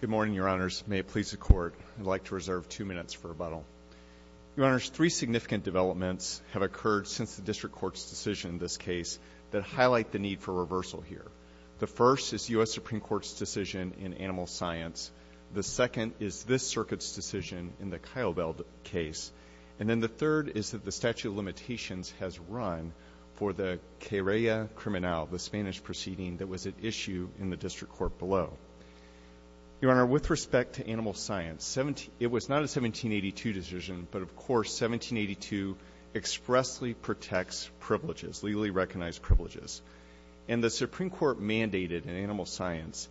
Good morning, Your Honors. May it please the Court. I'd like to reserve two minutes for rebuttal. Your Honors, three significant developments have occurred since the District Court's decision in this case that highlight the need for reversal here. The first is U.S. Supreme Court's decision in Animal Science. The second is this Circuit's decision in the Kyle Bell case. And then the third is that the statute of limitations has run for the Spanish proceeding that was at issue in the District Court below. Your Honor, with respect to Animal Science, it was not a 1782 decision, but of course 1782 expressly protects privileges, legally recognized privileges. And the Supreme Court mandated in Animal Science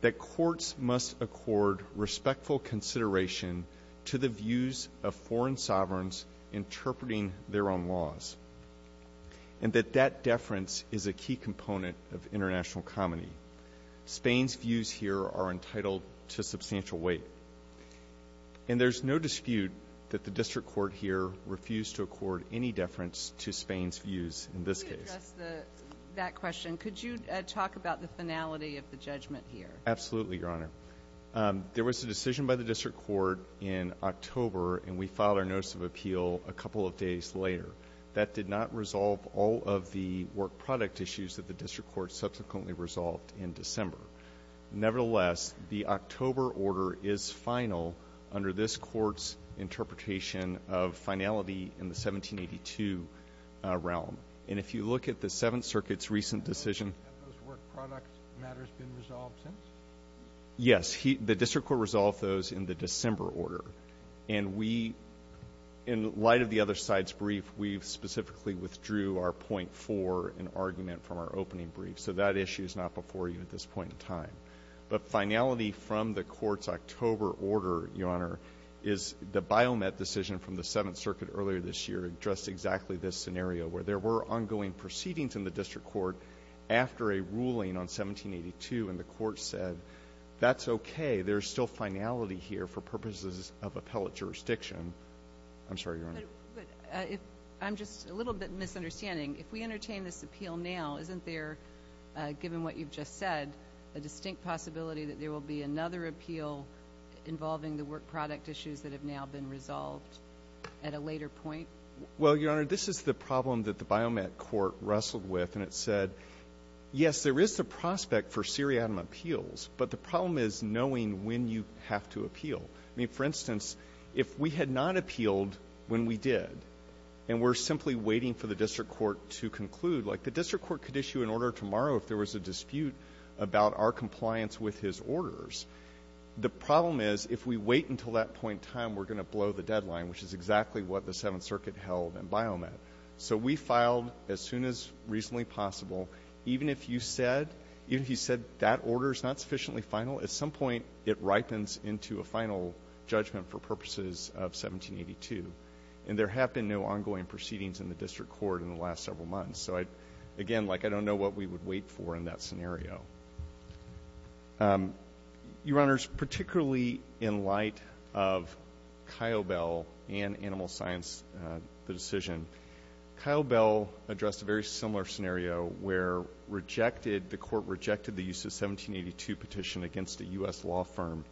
that courts must accord respectful consideration to the views of foreign sovereigns interpreting their own laws. And that that deference is a key component of international comity. Spain's views here are entitled to substantial weight. And there's no dispute that the District Court here refused to accord any deference to Spain's views in this case. Could you talk about the finality of the judgment here? Absolutely, Your Honor. There was a decision by the District Court in October and we filed our notice of appeal a couple of days later. That did not resolve all of the work product issues that the District Court subsequently resolved in December. Nevertheless, the October order is final under this Court's interpretation of finality in the 1782 realm. And if you look at the Seventh Circuit's recent decision... Yes, the District Court resolved those in the December order. And we, in light of the other side's brief, we've specifically withdrew our point for an argument from our opening brief. So that issue is not before you at this point in time. But finality from the Court's October order, Your Honor, is the Biomet decision from the Seventh Circuit earlier this year addressed exactly this scenario, where there were ongoing proceedings in the District Court after a ruling on 1782 and the Court said, that's okay, there's still finality here for purposes of appellate jurisdiction. I'm sorry, Your Honor. I'm just a little bit misunderstanding. If we entertain this appeal now, isn't there, given what you've just said, a distinct possibility that there will be another appeal involving the work product issues that have now been resolved at a later point? Well, Your Honor, this is the problem that the Biomet Court wrestled with, and it said, yes, there is the prospect for seriatim appeals, but the problem is knowing when you have to appeal. I mean, for instance, if we had not appealed when we did, and we're simply waiting for the District Court to conclude, like the District Court could issue an order tomorrow if there was a dispute about our compliance with his orders. The problem is if we wait until that point in time, we're going to blow the deadline, which is exactly what the Seventh Circuit held in Biomet. So we filed as soon as reasonably possible. Even if you said that order is not sufficiently final, at some point it ripens into a final judgment for purposes of 1782. And there have been no ongoing proceedings in the District Court in the last several months. So, again, like I don't know what we would wait for in that scenario. Your Honors, particularly in light of Kyle Bell and Animal Science, the decision, Kyle Bell addressed a very similar scenario where the court rejected the use of 1782 petition against a U.S. law firm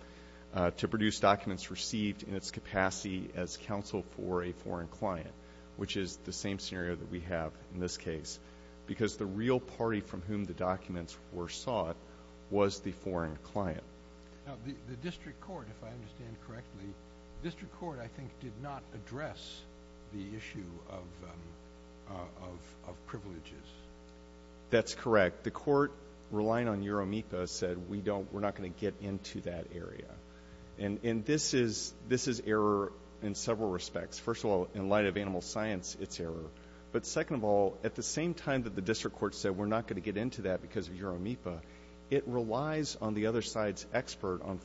to produce documents received in its capacity as counsel for a foreign client, which is the same scenario that we have in this case, because the real party from whom the documents were sought was the foreign client. The District Court, if I understand correctly, the District Court, I think, did not address the issue of privileges. That's correct. The court, relying on Uromipa, said we're not going to get into that area. And this is error in several respects. First of all, in light of Animal Science, it's error. But second of all, at the same time that the District Court said we're not going to get into that because of Uromipa, it relies on the other side's expert on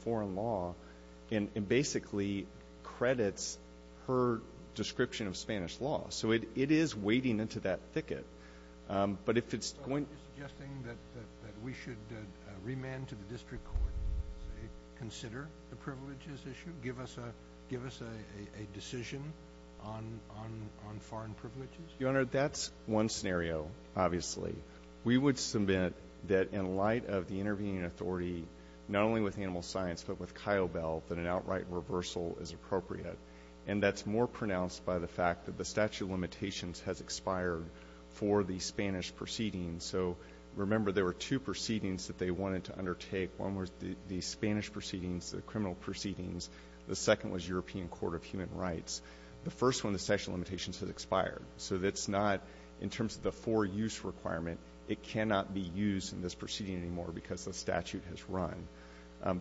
description of Spanish law. So it is wading into that thicket. Are you suggesting that we should remand to the District Court and say consider the privileges issue? Give us a decision on foreign privileges? Your Honor, that's one scenario, obviously. We would submit that in light of the intervening authority, not only with Animal Science, but with Kyobel, that an outright reversal is appropriate. And that's more pronounced by the fact that the statute of limitations has expired for the Spanish proceedings. So remember, there were two proceedings that they wanted to undertake. One was the Spanish proceedings, the criminal proceedings. The second was European Court of Human Rights. The first one, the statute of limitations, has expired. So it's not, in terms of the for-use requirement, it cannot be used in this proceeding anymore because the statute has run.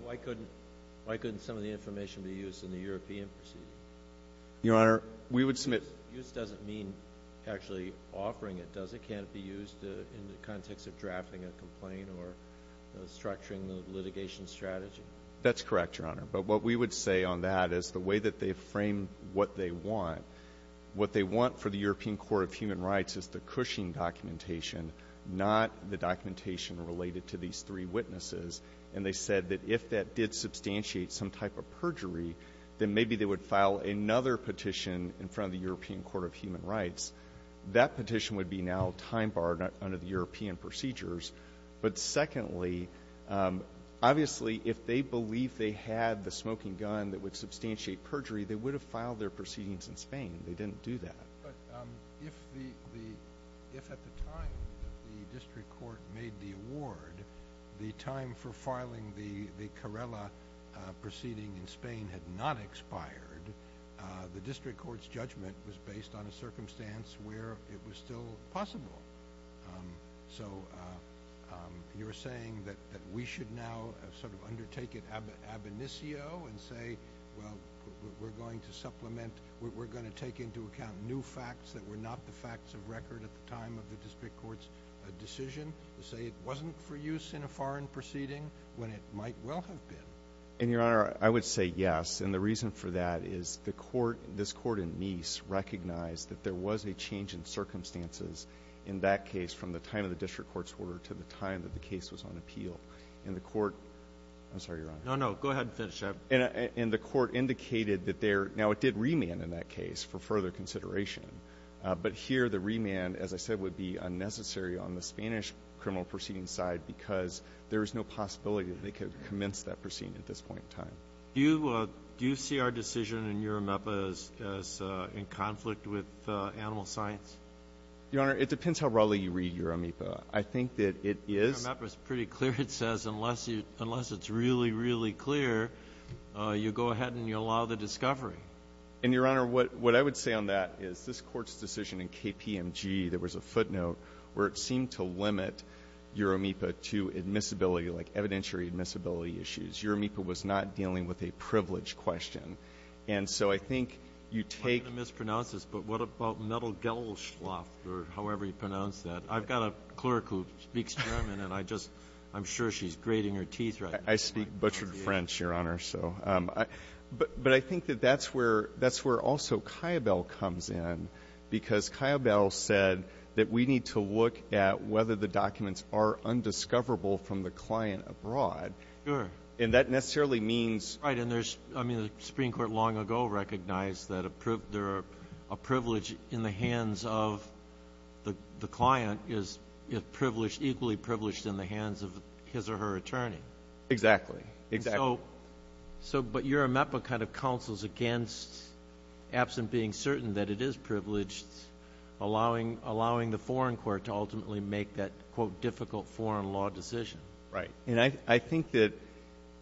Why couldn't some of the information be used in the European proceedings? Use doesn't mean actually offering it, does it? Can it be used in the context of drafting a complaint or structuring the litigation strategy? That's correct, Your Honor. But what we would say on that is the way that they frame what they want, what they want for the European Court of Human Rights is the Cushing documentation, not the documentation related to these three witnesses. And they said that if that did substantiate some type of perjury, then maybe they would file another petition in front of the European Court of Human Rights. That petition would be now time-barred under the European procedures. But secondly, obviously, if they believed they had the smoking gun that would substantiate perjury, they would have filed their proceedings in Spain. They didn't do that. But if at the time that the district court made the award, the time for filing the Carrella proceeding in Spain had not expired, the district court's judgment was based on a circumstance where it was still possible. So you're saying that we should now sort of undertake it ab initio and say, well, we're going to supplement, we're going to take into account new facts that were not the facts of record at the time of the district court's decision to say it wasn't for use in a foreign proceeding when it might well have been? And, Your Honor, I would say yes. And the reason for that is the court, this court in Nice, recognized that there was a change in circumstances in that case from the time of the district court's order to the time that the case was on appeal. And the court, I'm sorry, Your Honor. No, no. Go ahead and finish, Jeff. And the court indicated that there, now it did remand in that case for further consideration, but here the remand, as I said, would be unnecessary on the Spanish criminal proceeding side because there is no possibility that they could commence that proceeding at this point in time. Do you see our decision in URAMEPA as in conflict with animal science? Your Honor, it depends how broadly you read URAMEPA. I think that it is. URAMEPA is pretty clear. It says unless it's really, really clear, you go ahead and you allow the discovery. And, Your Honor, what I would say on that is this Court's decision in KPMG, there was a footnote where it seemed to limit URAMEPA to admissibility, like evidentiary admissibility issues. URAMEPA was not dealing with a privilege question. And so I think you take ---- I'm going to mispronounce this, but what about Mettel-Gelschloff, or however you pronounce that? I've got a clerk who speaks German, and I just, I'm sure she's grating her teeth right now. I speak butchered French, Your Honor, so. But I think that that's where also Kiobel comes in because Kiobel said that we need to look at whether the documents are undiscoverable from the client abroad. Sure. And that necessarily means ---- Right, and there's, I mean, the Supreme Court long ago recognized that there are, a privilege in the hands of the client is privileged, equally privileged in the hands of his or her attorney. Exactly, exactly. So, but URAMEPA kind of counsels against, absent being certain that it is privileged, allowing the foreign court to ultimately make that, quote, difficult foreign law decision. Right. And I think that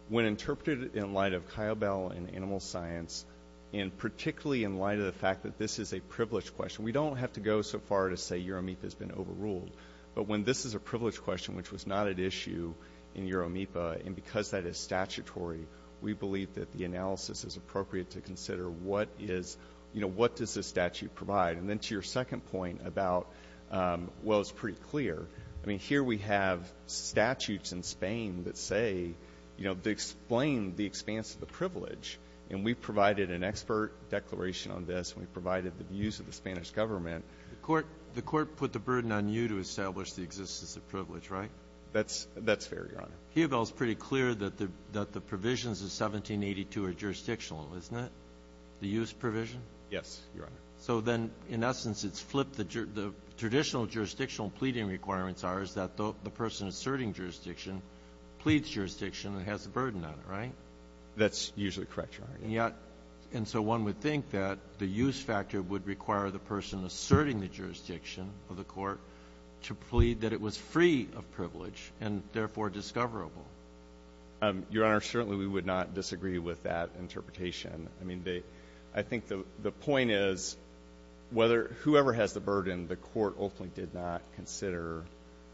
when interpreted in light of Kiobel and animal science, and particularly in light of the fact that this is a privilege question, we don't have to go so far to say URAMEPA has been overruled. But when this is a privilege question, which was not at issue in URAMEPA, and because that is statutory, we believe that the analysis is appropriate to consider what is, you know, what does this statute provide. And then to your second point about, well, it's pretty clear. I mean, here we have statutes in Spain that say, you know, they explain the expanse of the privilege. And we provided an expert declaration on this, and we provided the views of the Spanish government. The Court put the burden on you to establish the existence of privilege, right? That's fair, Your Honor. Kiobel is pretty clear that the provisions of 1782 are jurisdictional, isn't it? The use provision? Yes, Your Honor. So then, in essence, it's flipped. The traditional jurisdictional pleading requirements are is that the person asserting jurisdiction pleads jurisdiction and has the burden on it, right? That's usually correct, Your Honor. Yeah. And so one would think that the use factor would require the person asserting the jurisdiction of the Court to plead that it was free of privilege and therefore discoverable. Your Honor, certainly we would not disagree with that interpretation. I mean, I think the point is, whoever has the burden, the Court ultimately did not consider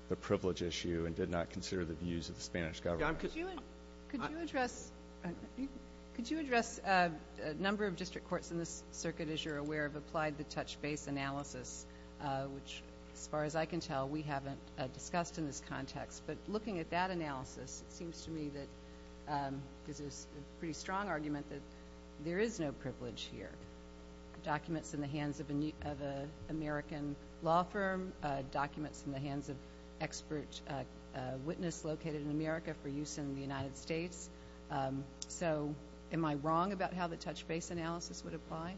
the privilege issue and did not consider the views of the Spanish government. Could you address a number of district courts in this circuit, as you're aware, have applied the touch base analysis, which, as far as I can tell, we haven't discussed in this context. But looking at that analysis, it seems to me that, this is a pretty strong argument, that there is no privilege here. Documents in the hands of an American law firm, documents in the hands of expert witness located in America for use in the United States. So am I wrong about how the touch base analysis would apply?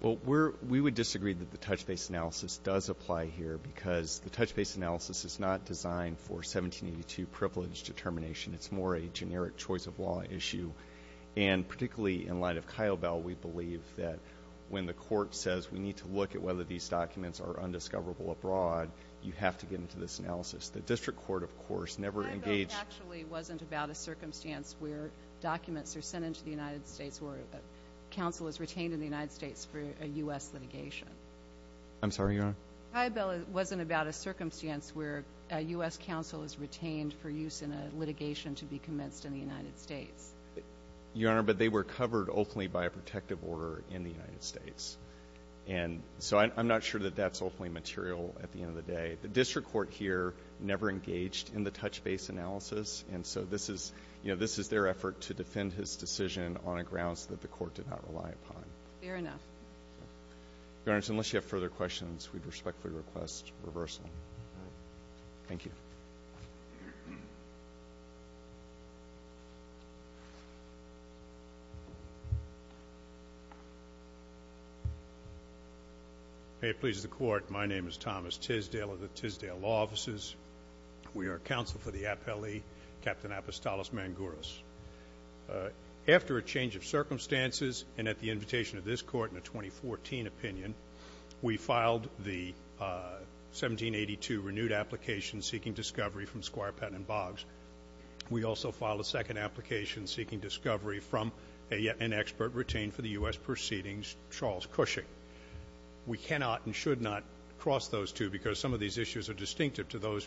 Well, we would disagree that the touch base analysis does apply here because the touch base analysis is not designed for 1782 privilege determination. It's more a generic choice of law issue. And particularly in light of Kiobel, we believe that when the Court says we need to look at whether these documents are undiscoverable abroad, you have to get into this analysis. The district court, of course, never engaged. Kiobel actually wasn't about a circumstance where documents are sent into the United States where counsel is retained in the United States for a U.S. litigation. I'm sorry, Your Honor? Kiobel wasn't about a circumstance where a U.S. counsel is retained for use in a litigation to be commenced in the United States. Your Honor, but they were covered ultimately by a protective order in the United States. And so I'm not sure that that's ultimately material at the end of the day. The district court here never engaged in the touch base analysis. And so this is, you know, this is their effort to defend his decision on a grounds that the Court did not rely upon. Fair enough. Your Honor, unless you have further questions, we respectfully request reversal. Thank you. May it please the Court, my name is Thomas Tisdale of the Tisdale Law Offices. We are counsel for the appellee, Captain Apostolos Mangouras. After a change of circumstances and at the invitation of this Court in a 2014 opinion, we filed the 1782 renewed application seeking discovery from Squire Patton Boggs. We also filed a second application seeking discovery from an expert retained for the U.S. proceedings, Charles Cushing. We cannot and should not cross those two because some of these issues are distinctive to those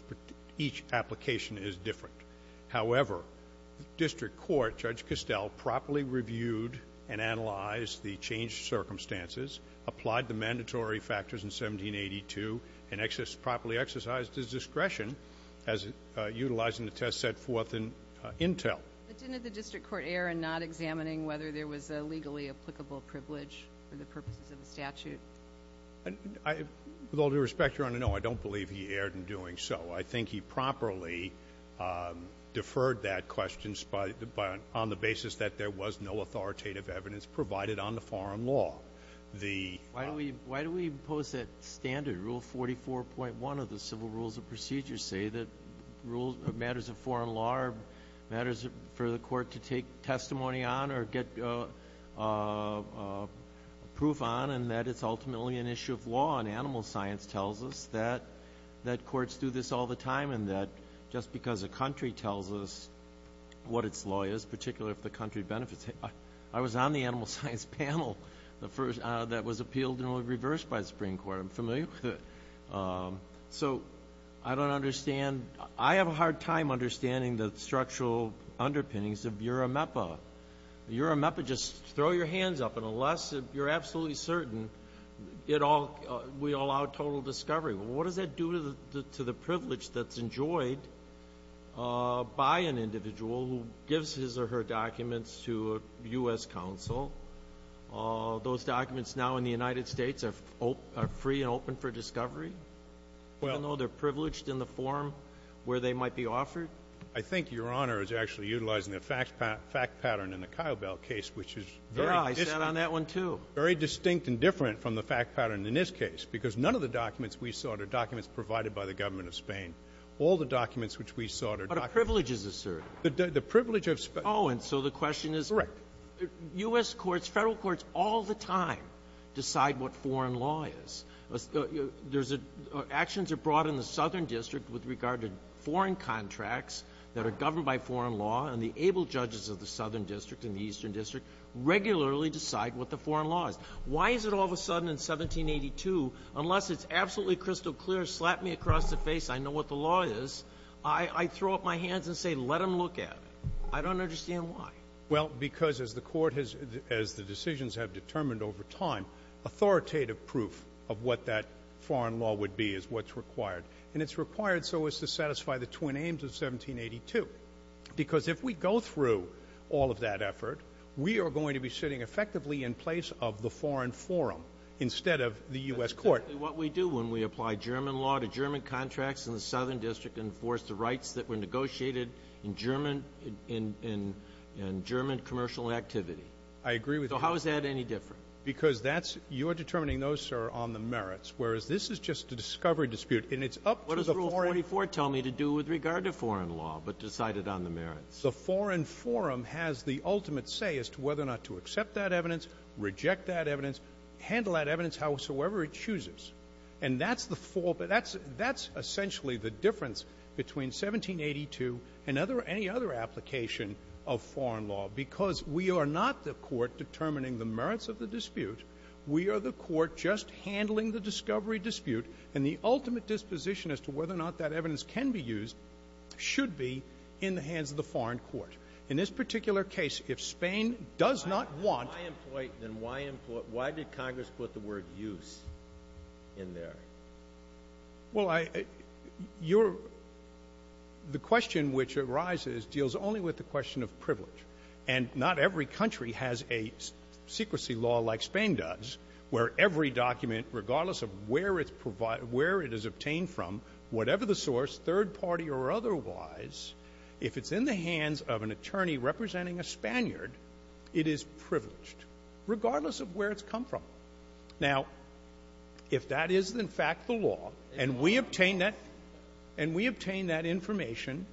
each application is different. However, the district court, Judge Costell, properly reviewed and analyzed the changed circumstances, applied the mandatory factors in 1782, and properly exercised his discretion as utilizing the test set forth in Intel. But didn't the district court err in not examining whether there was a legally applicable privilege for the purposes of the statute? With all due respect, Your Honor, no, I don't believe he erred in doing so. I think he properly deferred that question on the basis that there was no authoritative evidence provided on the foreign law. Why do we impose that standard, Rule 44.1 of the Civil Rules of Procedure, say that matters of foreign law are matters for the court to take testimony on or get proof on and that it's ultimately an issue of law and animal science tells us that courts do this all the time and that just because a country tells us what its law is, particularly if the country benefits it. I was on the animal science panel that was appealed and was reversed by the Supreme Court. I'm familiar with it. So I don't understand. I have a hard time understanding the structural underpinnings of URAMEPA. URAMEPA, just throw your hands up, and unless you're absolutely certain we allow total discovery. What does that do to the privilege that's enjoyed by an individual who gives his or her documents to a U.S. counsel? Those documents now in the United States are free and open for discovery, even though they're privileged in the form where they might be offered? I think Your Honor is actually utilizing the fact pattern in the Kyobel case, which is very distinct. Yeah. I sat on that one, too. Very distinct and different from the fact pattern in this case, because none of the documents we sought are documents provided by the government of Spain. All the documents which we sought are documents we sought. But a privilege is asserted. The privilege of Spain. Oh, and so the question is the U.S. courts, Federal courts all the time decide what foreign law is. Actions are brought in the Southern District with regard to foreign contracts that are governed by foreign law, and the able judges of the Southern District and the Eastern District regularly decide what the foreign law is. Why is it all of a sudden in 1782, unless it's absolutely crystal clear, slap me across the face, I know what the law is, I throw up my hands and say let them look at it? I don't understand why. Well, because as the Court has, as the decisions have determined over time, authoritative proof of what that foreign law would be is what's required. And it's required so as to satisfy the twin aims of 1782. Because if we go through all of that effort, we are going to be sitting effectively in place of the foreign forum instead of the U.S. court. That's exactly what we do when we apply German law to German contracts in the Southern District and enforce the rights that were negotiated in German commercial activity. I agree with you. So how is that any different? Because that's you're determining those, sir, on the merits, whereas this is just a discovery dispute. And it's up to the foreign ---- What does Rule 44 tell me to do with regard to foreign law, but decided on the merits? The foreign forum has the ultimate say as to whether or not to accept that evidence, reject that evidence, handle that evidence howsoever it chooses. And that's the ---- that's essentially the difference between 1782 and any other application of foreign law, because we are not the Court determining the merits of the dispute. We are the Court just handling the discovery dispute. And the ultimate disposition as to whether or not that evidence can be used should be in the hands of the foreign court. In this particular case, if Spain does not want ---- Then why did Congress put the word use in there? Well, I ---- your ---- the question which arises deals only with the question of privilege. And not every country has a secrecy law like Spain does where every document, regardless of where it's ---- where it is obtained from, whatever the source, third party or otherwise, if it's in the hands of an attorney representing a Spaniard, it is privileged, regardless of where it's come from. Now, if that is, in fact, the law, and we obtain that ---- and we obtain that information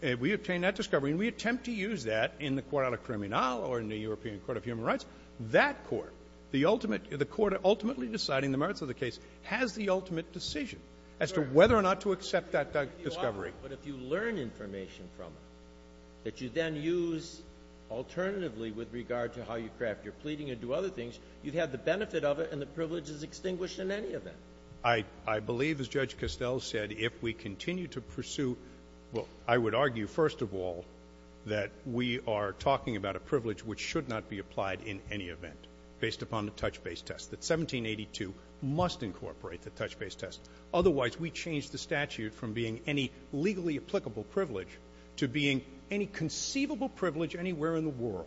and we obtain that discovery and we attempt to use that in the court of criminal or in the European Court of Human Rights, that court, the ultimate ---- the court ultimately deciding the merits of the case has the ultimate decision as to whether or not to accept that discovery. But if you learn information from it that you then use alternatively with regard to how you craft your pleading and do other things, you have the benefit of it and the privilege is extinguished in any event. I believe, as Judge Costell said, if we continue to pursue ---- well, I would argue, first of all, that we are talking about a privilege which should not be applied in any event based upon the touch-base test, that 1782 must incorporate the touch-base test. Otherwise, we change the statute from being any legally applicable privilege to being any conceivable privilege anywhere in the world.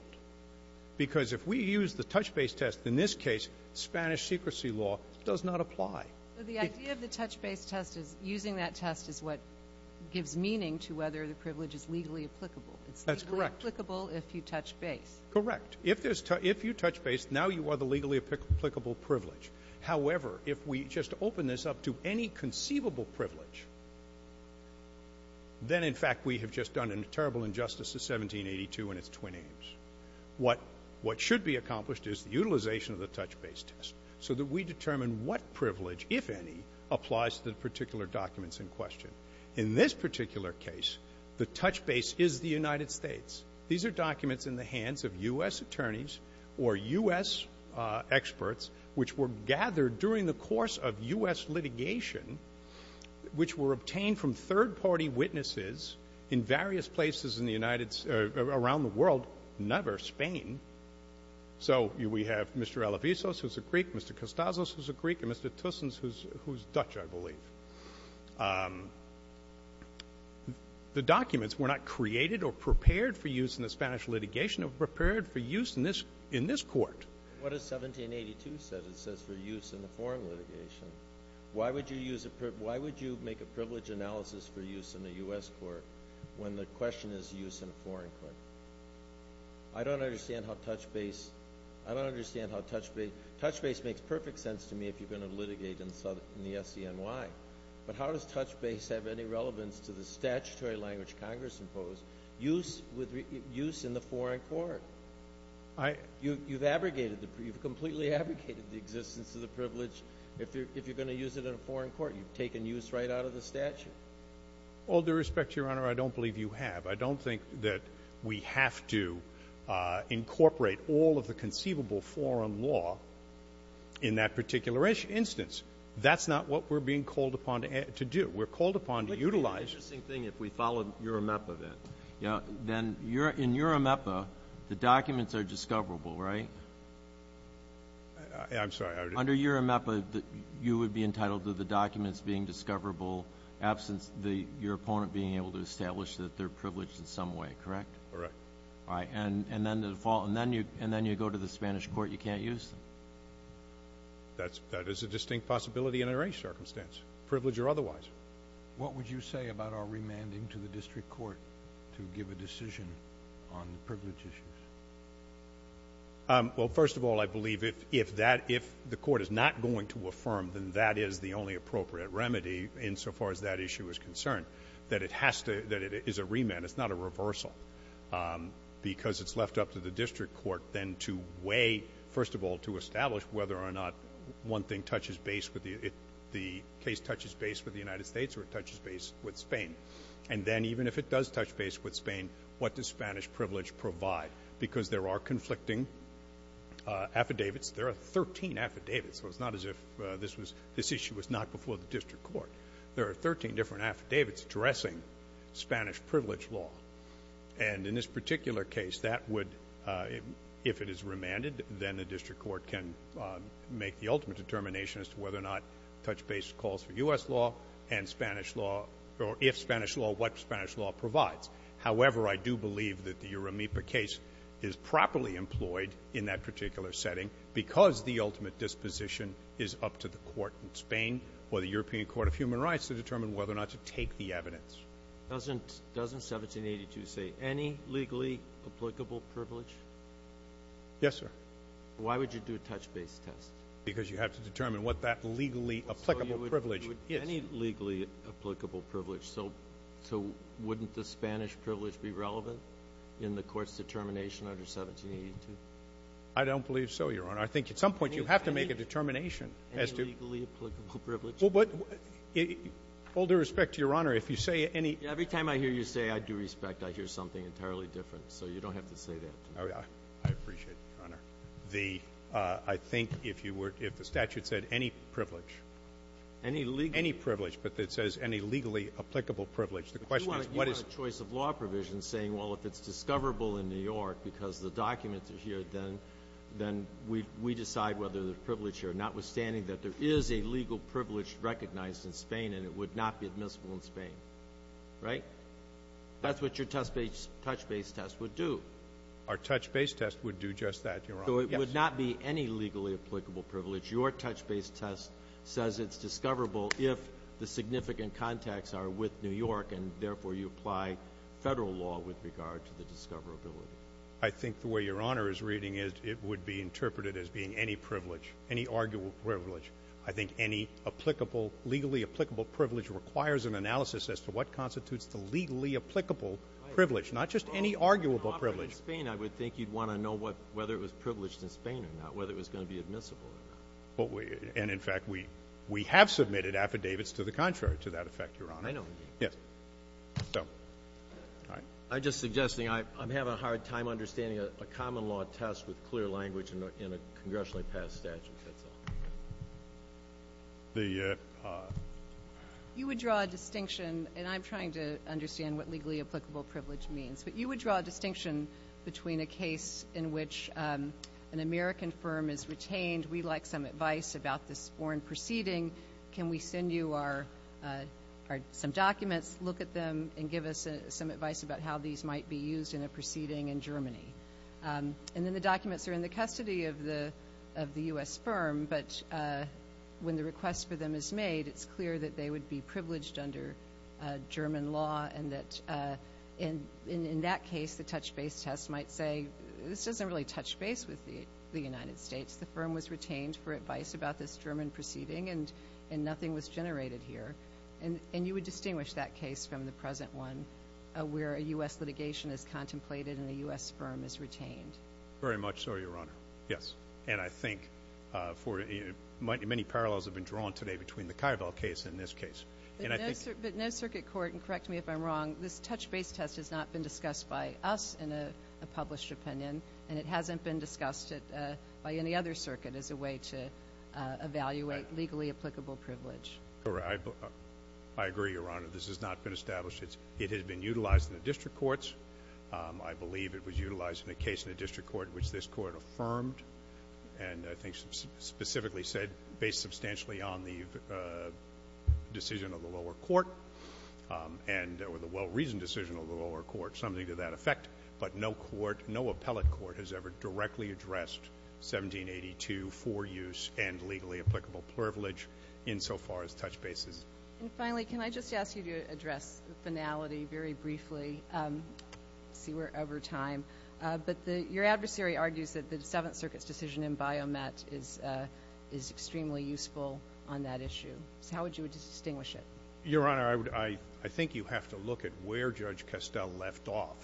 Because if we use the touch-base test, in this case, Spanish secrecy law does not apply. So the idea of the touch-base test is using that test is what gives meaning to whether the privilege is legally applicable. That's correct. It's legally applicable if you touch base. Correct. If you touch base, now you are the legally applicable privilege. However, if we just open this up to any conceivable privilege, then, in fact, we have just done a terrible injustice to 1782 and its twin aims. What should be accomplished is the utilization of the touch-base test so that we know which privilege, if any, applies to the particular documents in question. In this particular case, the touch base is the United States. These are documents in the hands of U.S. attorneys or U.S. experts which were gathered during the course of U.S. litigation, which were obtained from third-party witnesses in various places in the United States or around the world, never Spain. So we have Mr. Alavizos, who's a Greek, Mr. Costazos, who's a Greek, and Mr. Tussens, who's Dutch, I believe. The documents were not created or prepared for use in the Spanish litigation. They were prepared for use in this court. What does 1782 say? It says for use in the foreign litigation. Why would you make a privilege analysis for use in the U.S. court when the question is use in a foreign court? I don't understand how touch base makes perfect sense to me if you're going to litigate in the SCNY. But how does touch base have any relevance to the statutory language Congress imposed, use in the foreign court? You've abrogated, you've completely abrogated the existence of the privilege. If you're going to use it in a foreign court, you've taken use right out of the statute. All due respect, Your Honor, I don't believe you have. I don't think that we have to incorporate all of the conceivable foreign law in that particular instance. That's not what we're being called upon to do. We're called upon to utilize. Let me tell you an interesting thing if we follow URAMEPA then. In URAMEPA, the documents are discoverable, right? I'm sorry. Under URAMEPA, you would be entitled to the documents being discoverable in the absence of your opponent being able to establish that they're privileged in some way, correct? Correct. All right. And then you go to the Spanish court, you can't use them. That is a distinct possibility under any circumstance, privilege or otherwise. What would you say about our remanding to the district court to give a decision on privilege issues? Well, first of all, I believe if the court is not going to affirm, then that is the only appropriate remedy insofar as that issue is concerned, that it is a remand. It's not a reversal because it's left up to the district court then to weigh, first of all, to establish whether or not one thing touches base with the case touches base with the United States or it touches base with Spain. And then even if it does touch base with Spain, what does Spanish privilege provide? Because there are conflicting affidavits. There are 13 affidavits, so it's not as if this issue was not before the district court. There are 13 different affidavits addressing Spanish privilege law. And in this particular case, that would, if it is remanded, then the district court can make the ultimate determination as to whether or not touch base calls for U.S. law and Spanish law, or if Spanish law, what Spanish law provides. However, I do believe that the Uramipa case is properly employed in that particular setting because the ultimate disposition is up to the court in Spain or the European Court of Human Rights to determine whether or not to take the evidence. Doesn't 1782 say any legally applicable privilege? Yes, sir. Why would you do a touch base test? Because you have to determine what that legally applicable privilege is. Any legally applicable privilege. So wouldn't the Spanish privilege be relevant in the court's determination under 1782? I don't believe so, Your Honor. I think at some point you have to make a determination. Any legally applicable privilege. Well, but with all due respect to Your Honor, if you say any ---- Every time I hear you say, I do respect, I hear something entirely different. So you don't have to say that. I appreciate it, Your Honor. I think if the statute said any privilege. Any legally ---- Any privilege, but it says any legally applicable privilege. The question is what is ---- You want a choice of law provision saying, well, if it's discoverable in New York because the documents are here, then we decide whether the privilege here, notwithstanding that there is a legal privilege recognized in Spain and it would not be admissible in Spain, right? That's what your touch base test would do. Our touch base test would do just that, Your Honor. Yes. So it would not be any legally applicable privilege. Your touch base test says it's discoverable if the significant contacts are with New York and, therefore, you apply federal law with regard to the discoverability. I think the way Your Honor is reading it, it would be interpreted as being any privilege, any arguable privilege. I think any applicable, legally applicable privilege requires an analysis as to what constitutes the legally applicable privilege, not just any arguable privilege. Well, in Spain, I would think you'd want to know whether it was privileged in Spain or not, whether it was going to be admissible or not. And, in fact, we have submitted affidavits to the contrary to that effect, Your Honor. I know. Yes. So, all right. I'm just suggesting I'm having a hard time understanding a common law test with clear language in a congressionally passed statute. The ---- You would draw a distinction, and I'm trying to understand what legally applicable privilege means, but you would draw a distinction between a case in which an American firm is retained. We'd like some advice about this foreign proceeding. Can we send you some documents, look at them, and give us some advice about how these might be used in a proceeding in Germany? And then the documents are in the custody of the U.S. firm, but when the request for them is made, it's clear that they would be privileged under German law and that, in that case, the touch base test might say this doesn't really touch base with the United States. The firm was retained for advice about this German proceeding, and nothing was generated here. And you would distinguish that case from the present one where a U.S. litigation is contemplated and a U.S. firm is retained. Very much so, Your Honor. Yes. And I think many parallels have been drawn today between the Kuyvel case and this case. But no circuit court, and correct me if I'm wrong, this touch base test has not been discussed by us in a published opinion, and it hasn't been discussed by any other circuit as a way to evaluate legally applicable privilege. I agree, Your Honor. This has not been established. It has been utilized in the district courts. I believe it was utilized in a case in the district court which this court affirmed and I think specifically said based substantially on the decision of the lower court and the well-reasoned decision of the lower court, something to that effect. But no court, no appellate court has ever directly addressed 1782 for use and legally applicable privilege insofar as touch bases. And finally, can I just ask you to address the finality very briefly? I see we're over time. But your adversary argues that the Seventh Circuit's decision in Biomet is extremely useful on that issue. So how would you distinguish it? Your Honor, I think you have to look at where Judge Kestel left off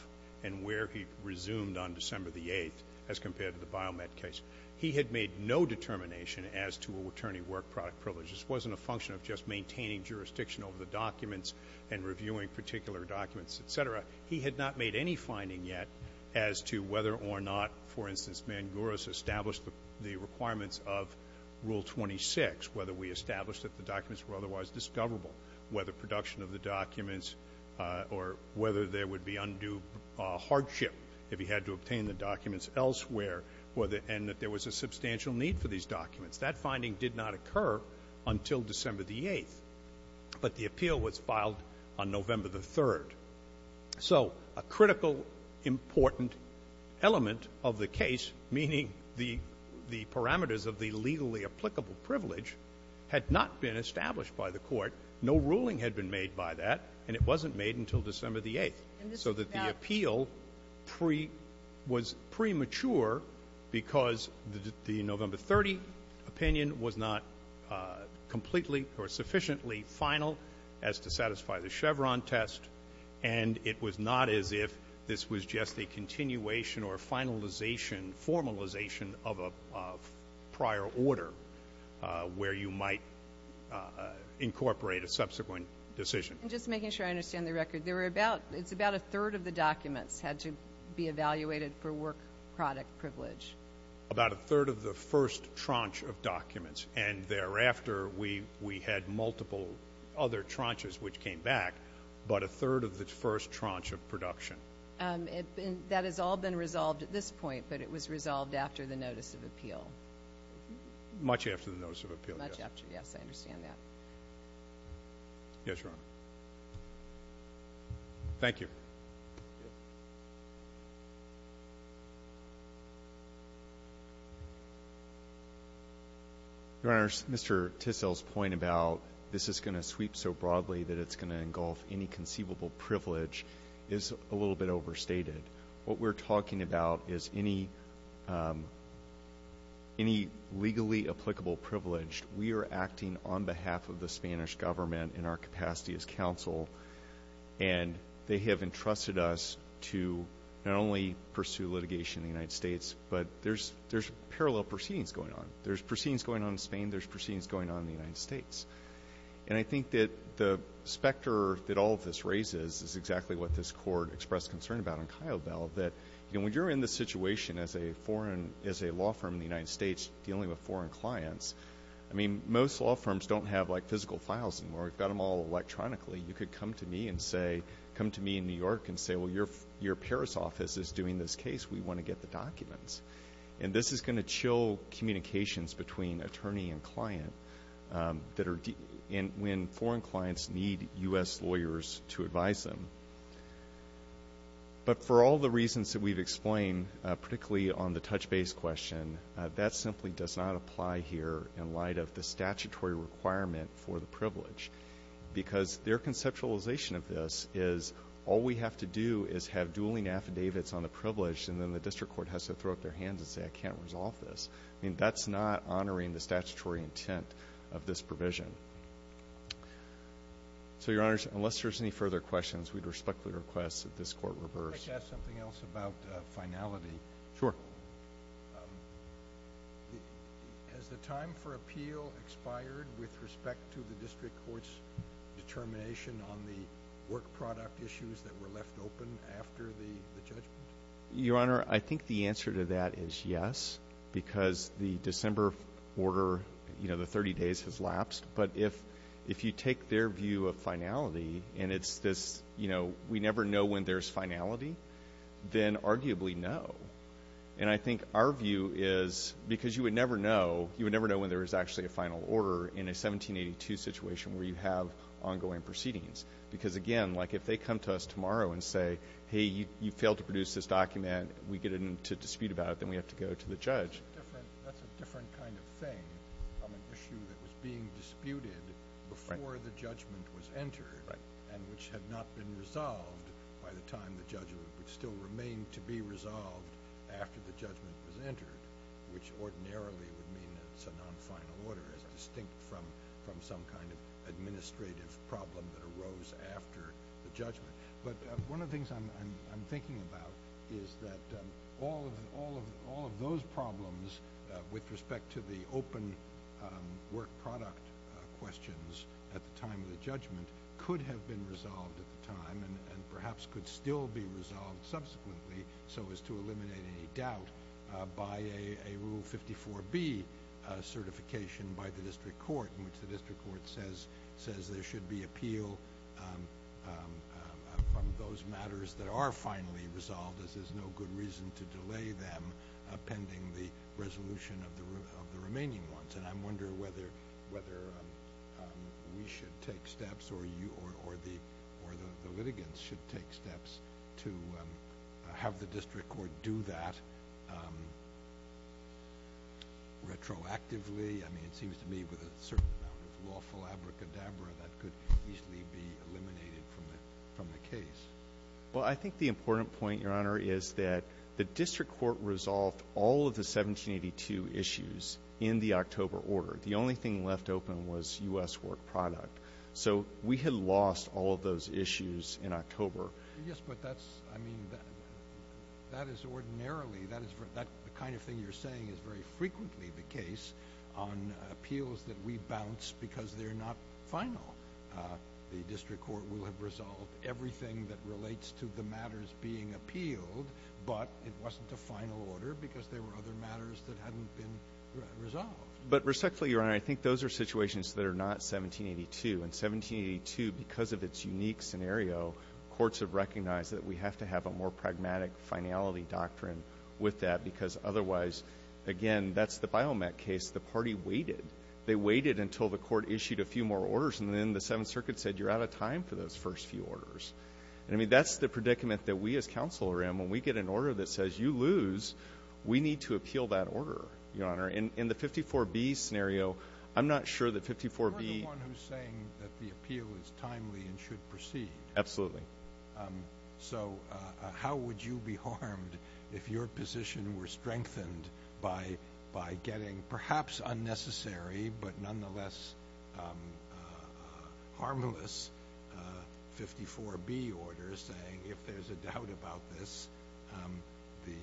and where he resumed on December the 8th as compared to the Biomet case. He had made no determination as to attorney work product privilege. This wasn't a function of just maintaining jurisdiction over the documents and reviewing particular documents, et cetera. He had not made any finding yet as to whether or not, for instance, Mangouris established the requirements of Rule 26, whether we established that the documents were otherwise discoverable, whether production of the documents or whether there would be undue hardship if he had to obtain the documents elsewhere and that there was a substantial need for these documents. That finding did not occur until December the 8th. But the appeal was filed on November the 3rd. So a critical, important element of the case, meaning the parameters of the legally applicable privilege, had not been established by the Court. No ruling had been made by that, and it wasn't made until December the 8th. So that the appeal was premature because the November 30 opinion was not completely or sufficiently final as to satisfy the Chevron test, and it was not as if this was just a continuation or finalization, formalization of a prior order where you might incorporate a subsequent decision. And just making sure I understand the record, it's about a third of the documents had to be evaluated for work product privilege. About a third of the first tranche of documents, and thereafter we had multiple other tranches which came back, but a third of the first tranche of production. That has all been resolved at this point, but it was resolved after the notice of appeal. Much after the notice of appeal, yes. Much after, yes, I understand that. Yes, Your Honor. Thank you. Your Honors, Mr. Tissell's point about this is going to sweep so broadly that it's going to engulf any conceivable privilege is a little bit overstated. What we're talking about is any legally applicable privilege. We are acting on behalf of the Spanish government in our capacity as counsel, and they have entrusted us to not only pursue litigation in the United States, but there's parallel proceedings going on. There's proceedings going on in Spain. There's proceedings going on in the United States. And I think that the specter that all of this raises is exactly what this Court expressed concern about in Kyobel, that when you're in this situation as a law firm in the United States dealing with foreign clients, I mean, most law firms don't have, like, physical files anymore. We've got them all electronically. You could come to me and say, come to me in New York and say, well, your Paris office is doing this case. We want to get the documents. And this is going to chill communications between attorney and client when foreign clients need U.S. lawyers to advise them. But for all the reasons that we've explained, particularly on the touch base question, that simply does not apply here in light of the statutory requirement for the privilege. Because their conceptualization of this is all we have to do is have dueling affidavits on the privilege, and then the district court has to throw up their hands and say, I can't resolve this. I mean, that's not honoring the statutory intent of this provision. So, Your Honors, unless there's any further questions, we'd respectfully request that this Court reverse. I'd like to ask something else about finality. Sure. Has the time for appeal expired with respect to the district court's determination on the work product issues that were left open after the judgment? Your Honor, I think the answer to that is yes, because the December order, you know, the 30 days has lapsed. But if you take their view of finality, and it's this, you know, we never know when there's finality, then arguably no. And I think our view is, because you would never know, you would never know when there was actually a final order in a 1782 situation where you have ongoing proceedings. Because, again, like if they come to us tomorrow and say, hey, you failed to produce this document, we get into dispute about it, then we have to go to the judge. That's a different kind of thing on an issue that was being disputed before the judgment was entered and which had not been resolved by the time the judgment would still remain to be resolved after the judgment was entered, which ordinarily would mean it's a non-final order, as distinct from some kind of administrative problem that arose after the judgment. But one of the things I'm thinking about is that all of those problems with respect to the open work product questions at the time of the judgment could have been resolved at the time and perhaps could still be resolved subsequently so as to eliminate any doubt by a Rule 54B certification by the district court in which the district court says there should be appeal from those matters that are finally resolved, as there's no good reason to delay them pending the resolution of the remaining ones. And I'm wondering whether we should take steps or you or the litigants should take steps to have the district court do that retroactively. I mean, it seems to me with a certain amount of lawful abracadabra that could easily be eliminated from the case. Well, I think the important point, Your Honor, is that the district court resolved all of the 1782 issues in the October order. The only thing left open was U.S. work product. So we had lost all of those issues in October. Yes, but that's, I mean, that is ordinarily, that kind of thing you're saying is very frequently the case on appeals that we bounce because they're not final. The district court will have resolved everything that relates to the matters being appealed, but it wasn't a final order because there were other matters that hadn't been resolved. But respectfully, Your Honor, I think those are situations that are not 1782. In 1782, because of its unique scenario, courts have recognized that we have to have a more pragmatic finality doctrine with that because otherwise, again, that's the Biomec case. The party waited. They waited until the court issued a few more orders, and then the Seventh Circuit said you're out of time for those first few orders. I mean, that's the predicament that we as counsel are in. When we get an order that says you lose, we need to appeal that order, Your Honor. In the 54B scenario, I'm not sure that 54B. You're the one who's saying that the appeal is timely and should proceed. Absolutely. So how would you be harmed if your position were strengthened by getting perhaps unnecessary but nonetheless harmless 54B orders saying if there's a doubt about this, the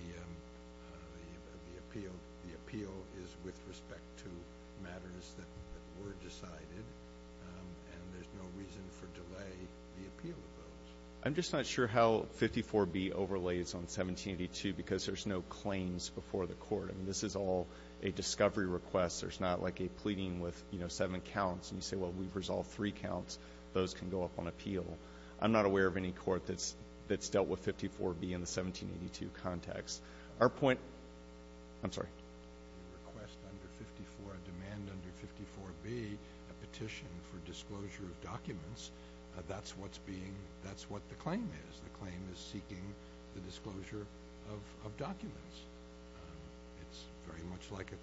appeal is with respect to matters that were decided, and there's no reason for delay in the appeal of those? I'm just not sure how 54B overlays on 1782 because there's no claims before the court. I mean, this is all a discovery request. There's not like a pleading with seven counts, and you say, well, we've resolved three counts. Those can go up on appeal. I'm not aware of any court that's dealt with 54B in the 1782 context. Our point – I'm sorry. A request under 54, a demand under 54B, a petition for disclosure of documents, that's what's being – that's what the claim is. The claim is seeking the disclosure of documents. It's very much like a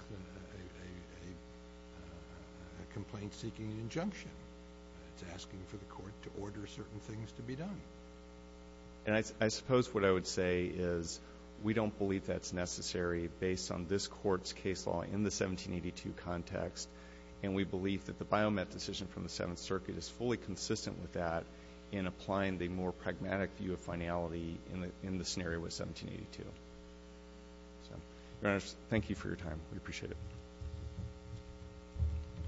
complaint seeking an injunction. It's asking for the court to order certain things to be done. And I suppose what I would say is we don't believe that's necessary based on this court's case law in the 1782 context, and we believe that the biomet decision from the Seventh Circuit is fully consistent with that in applying the more pragmatic view of finality in the scenario with 1782. Your Honor, thank you for your time. We appreciate it.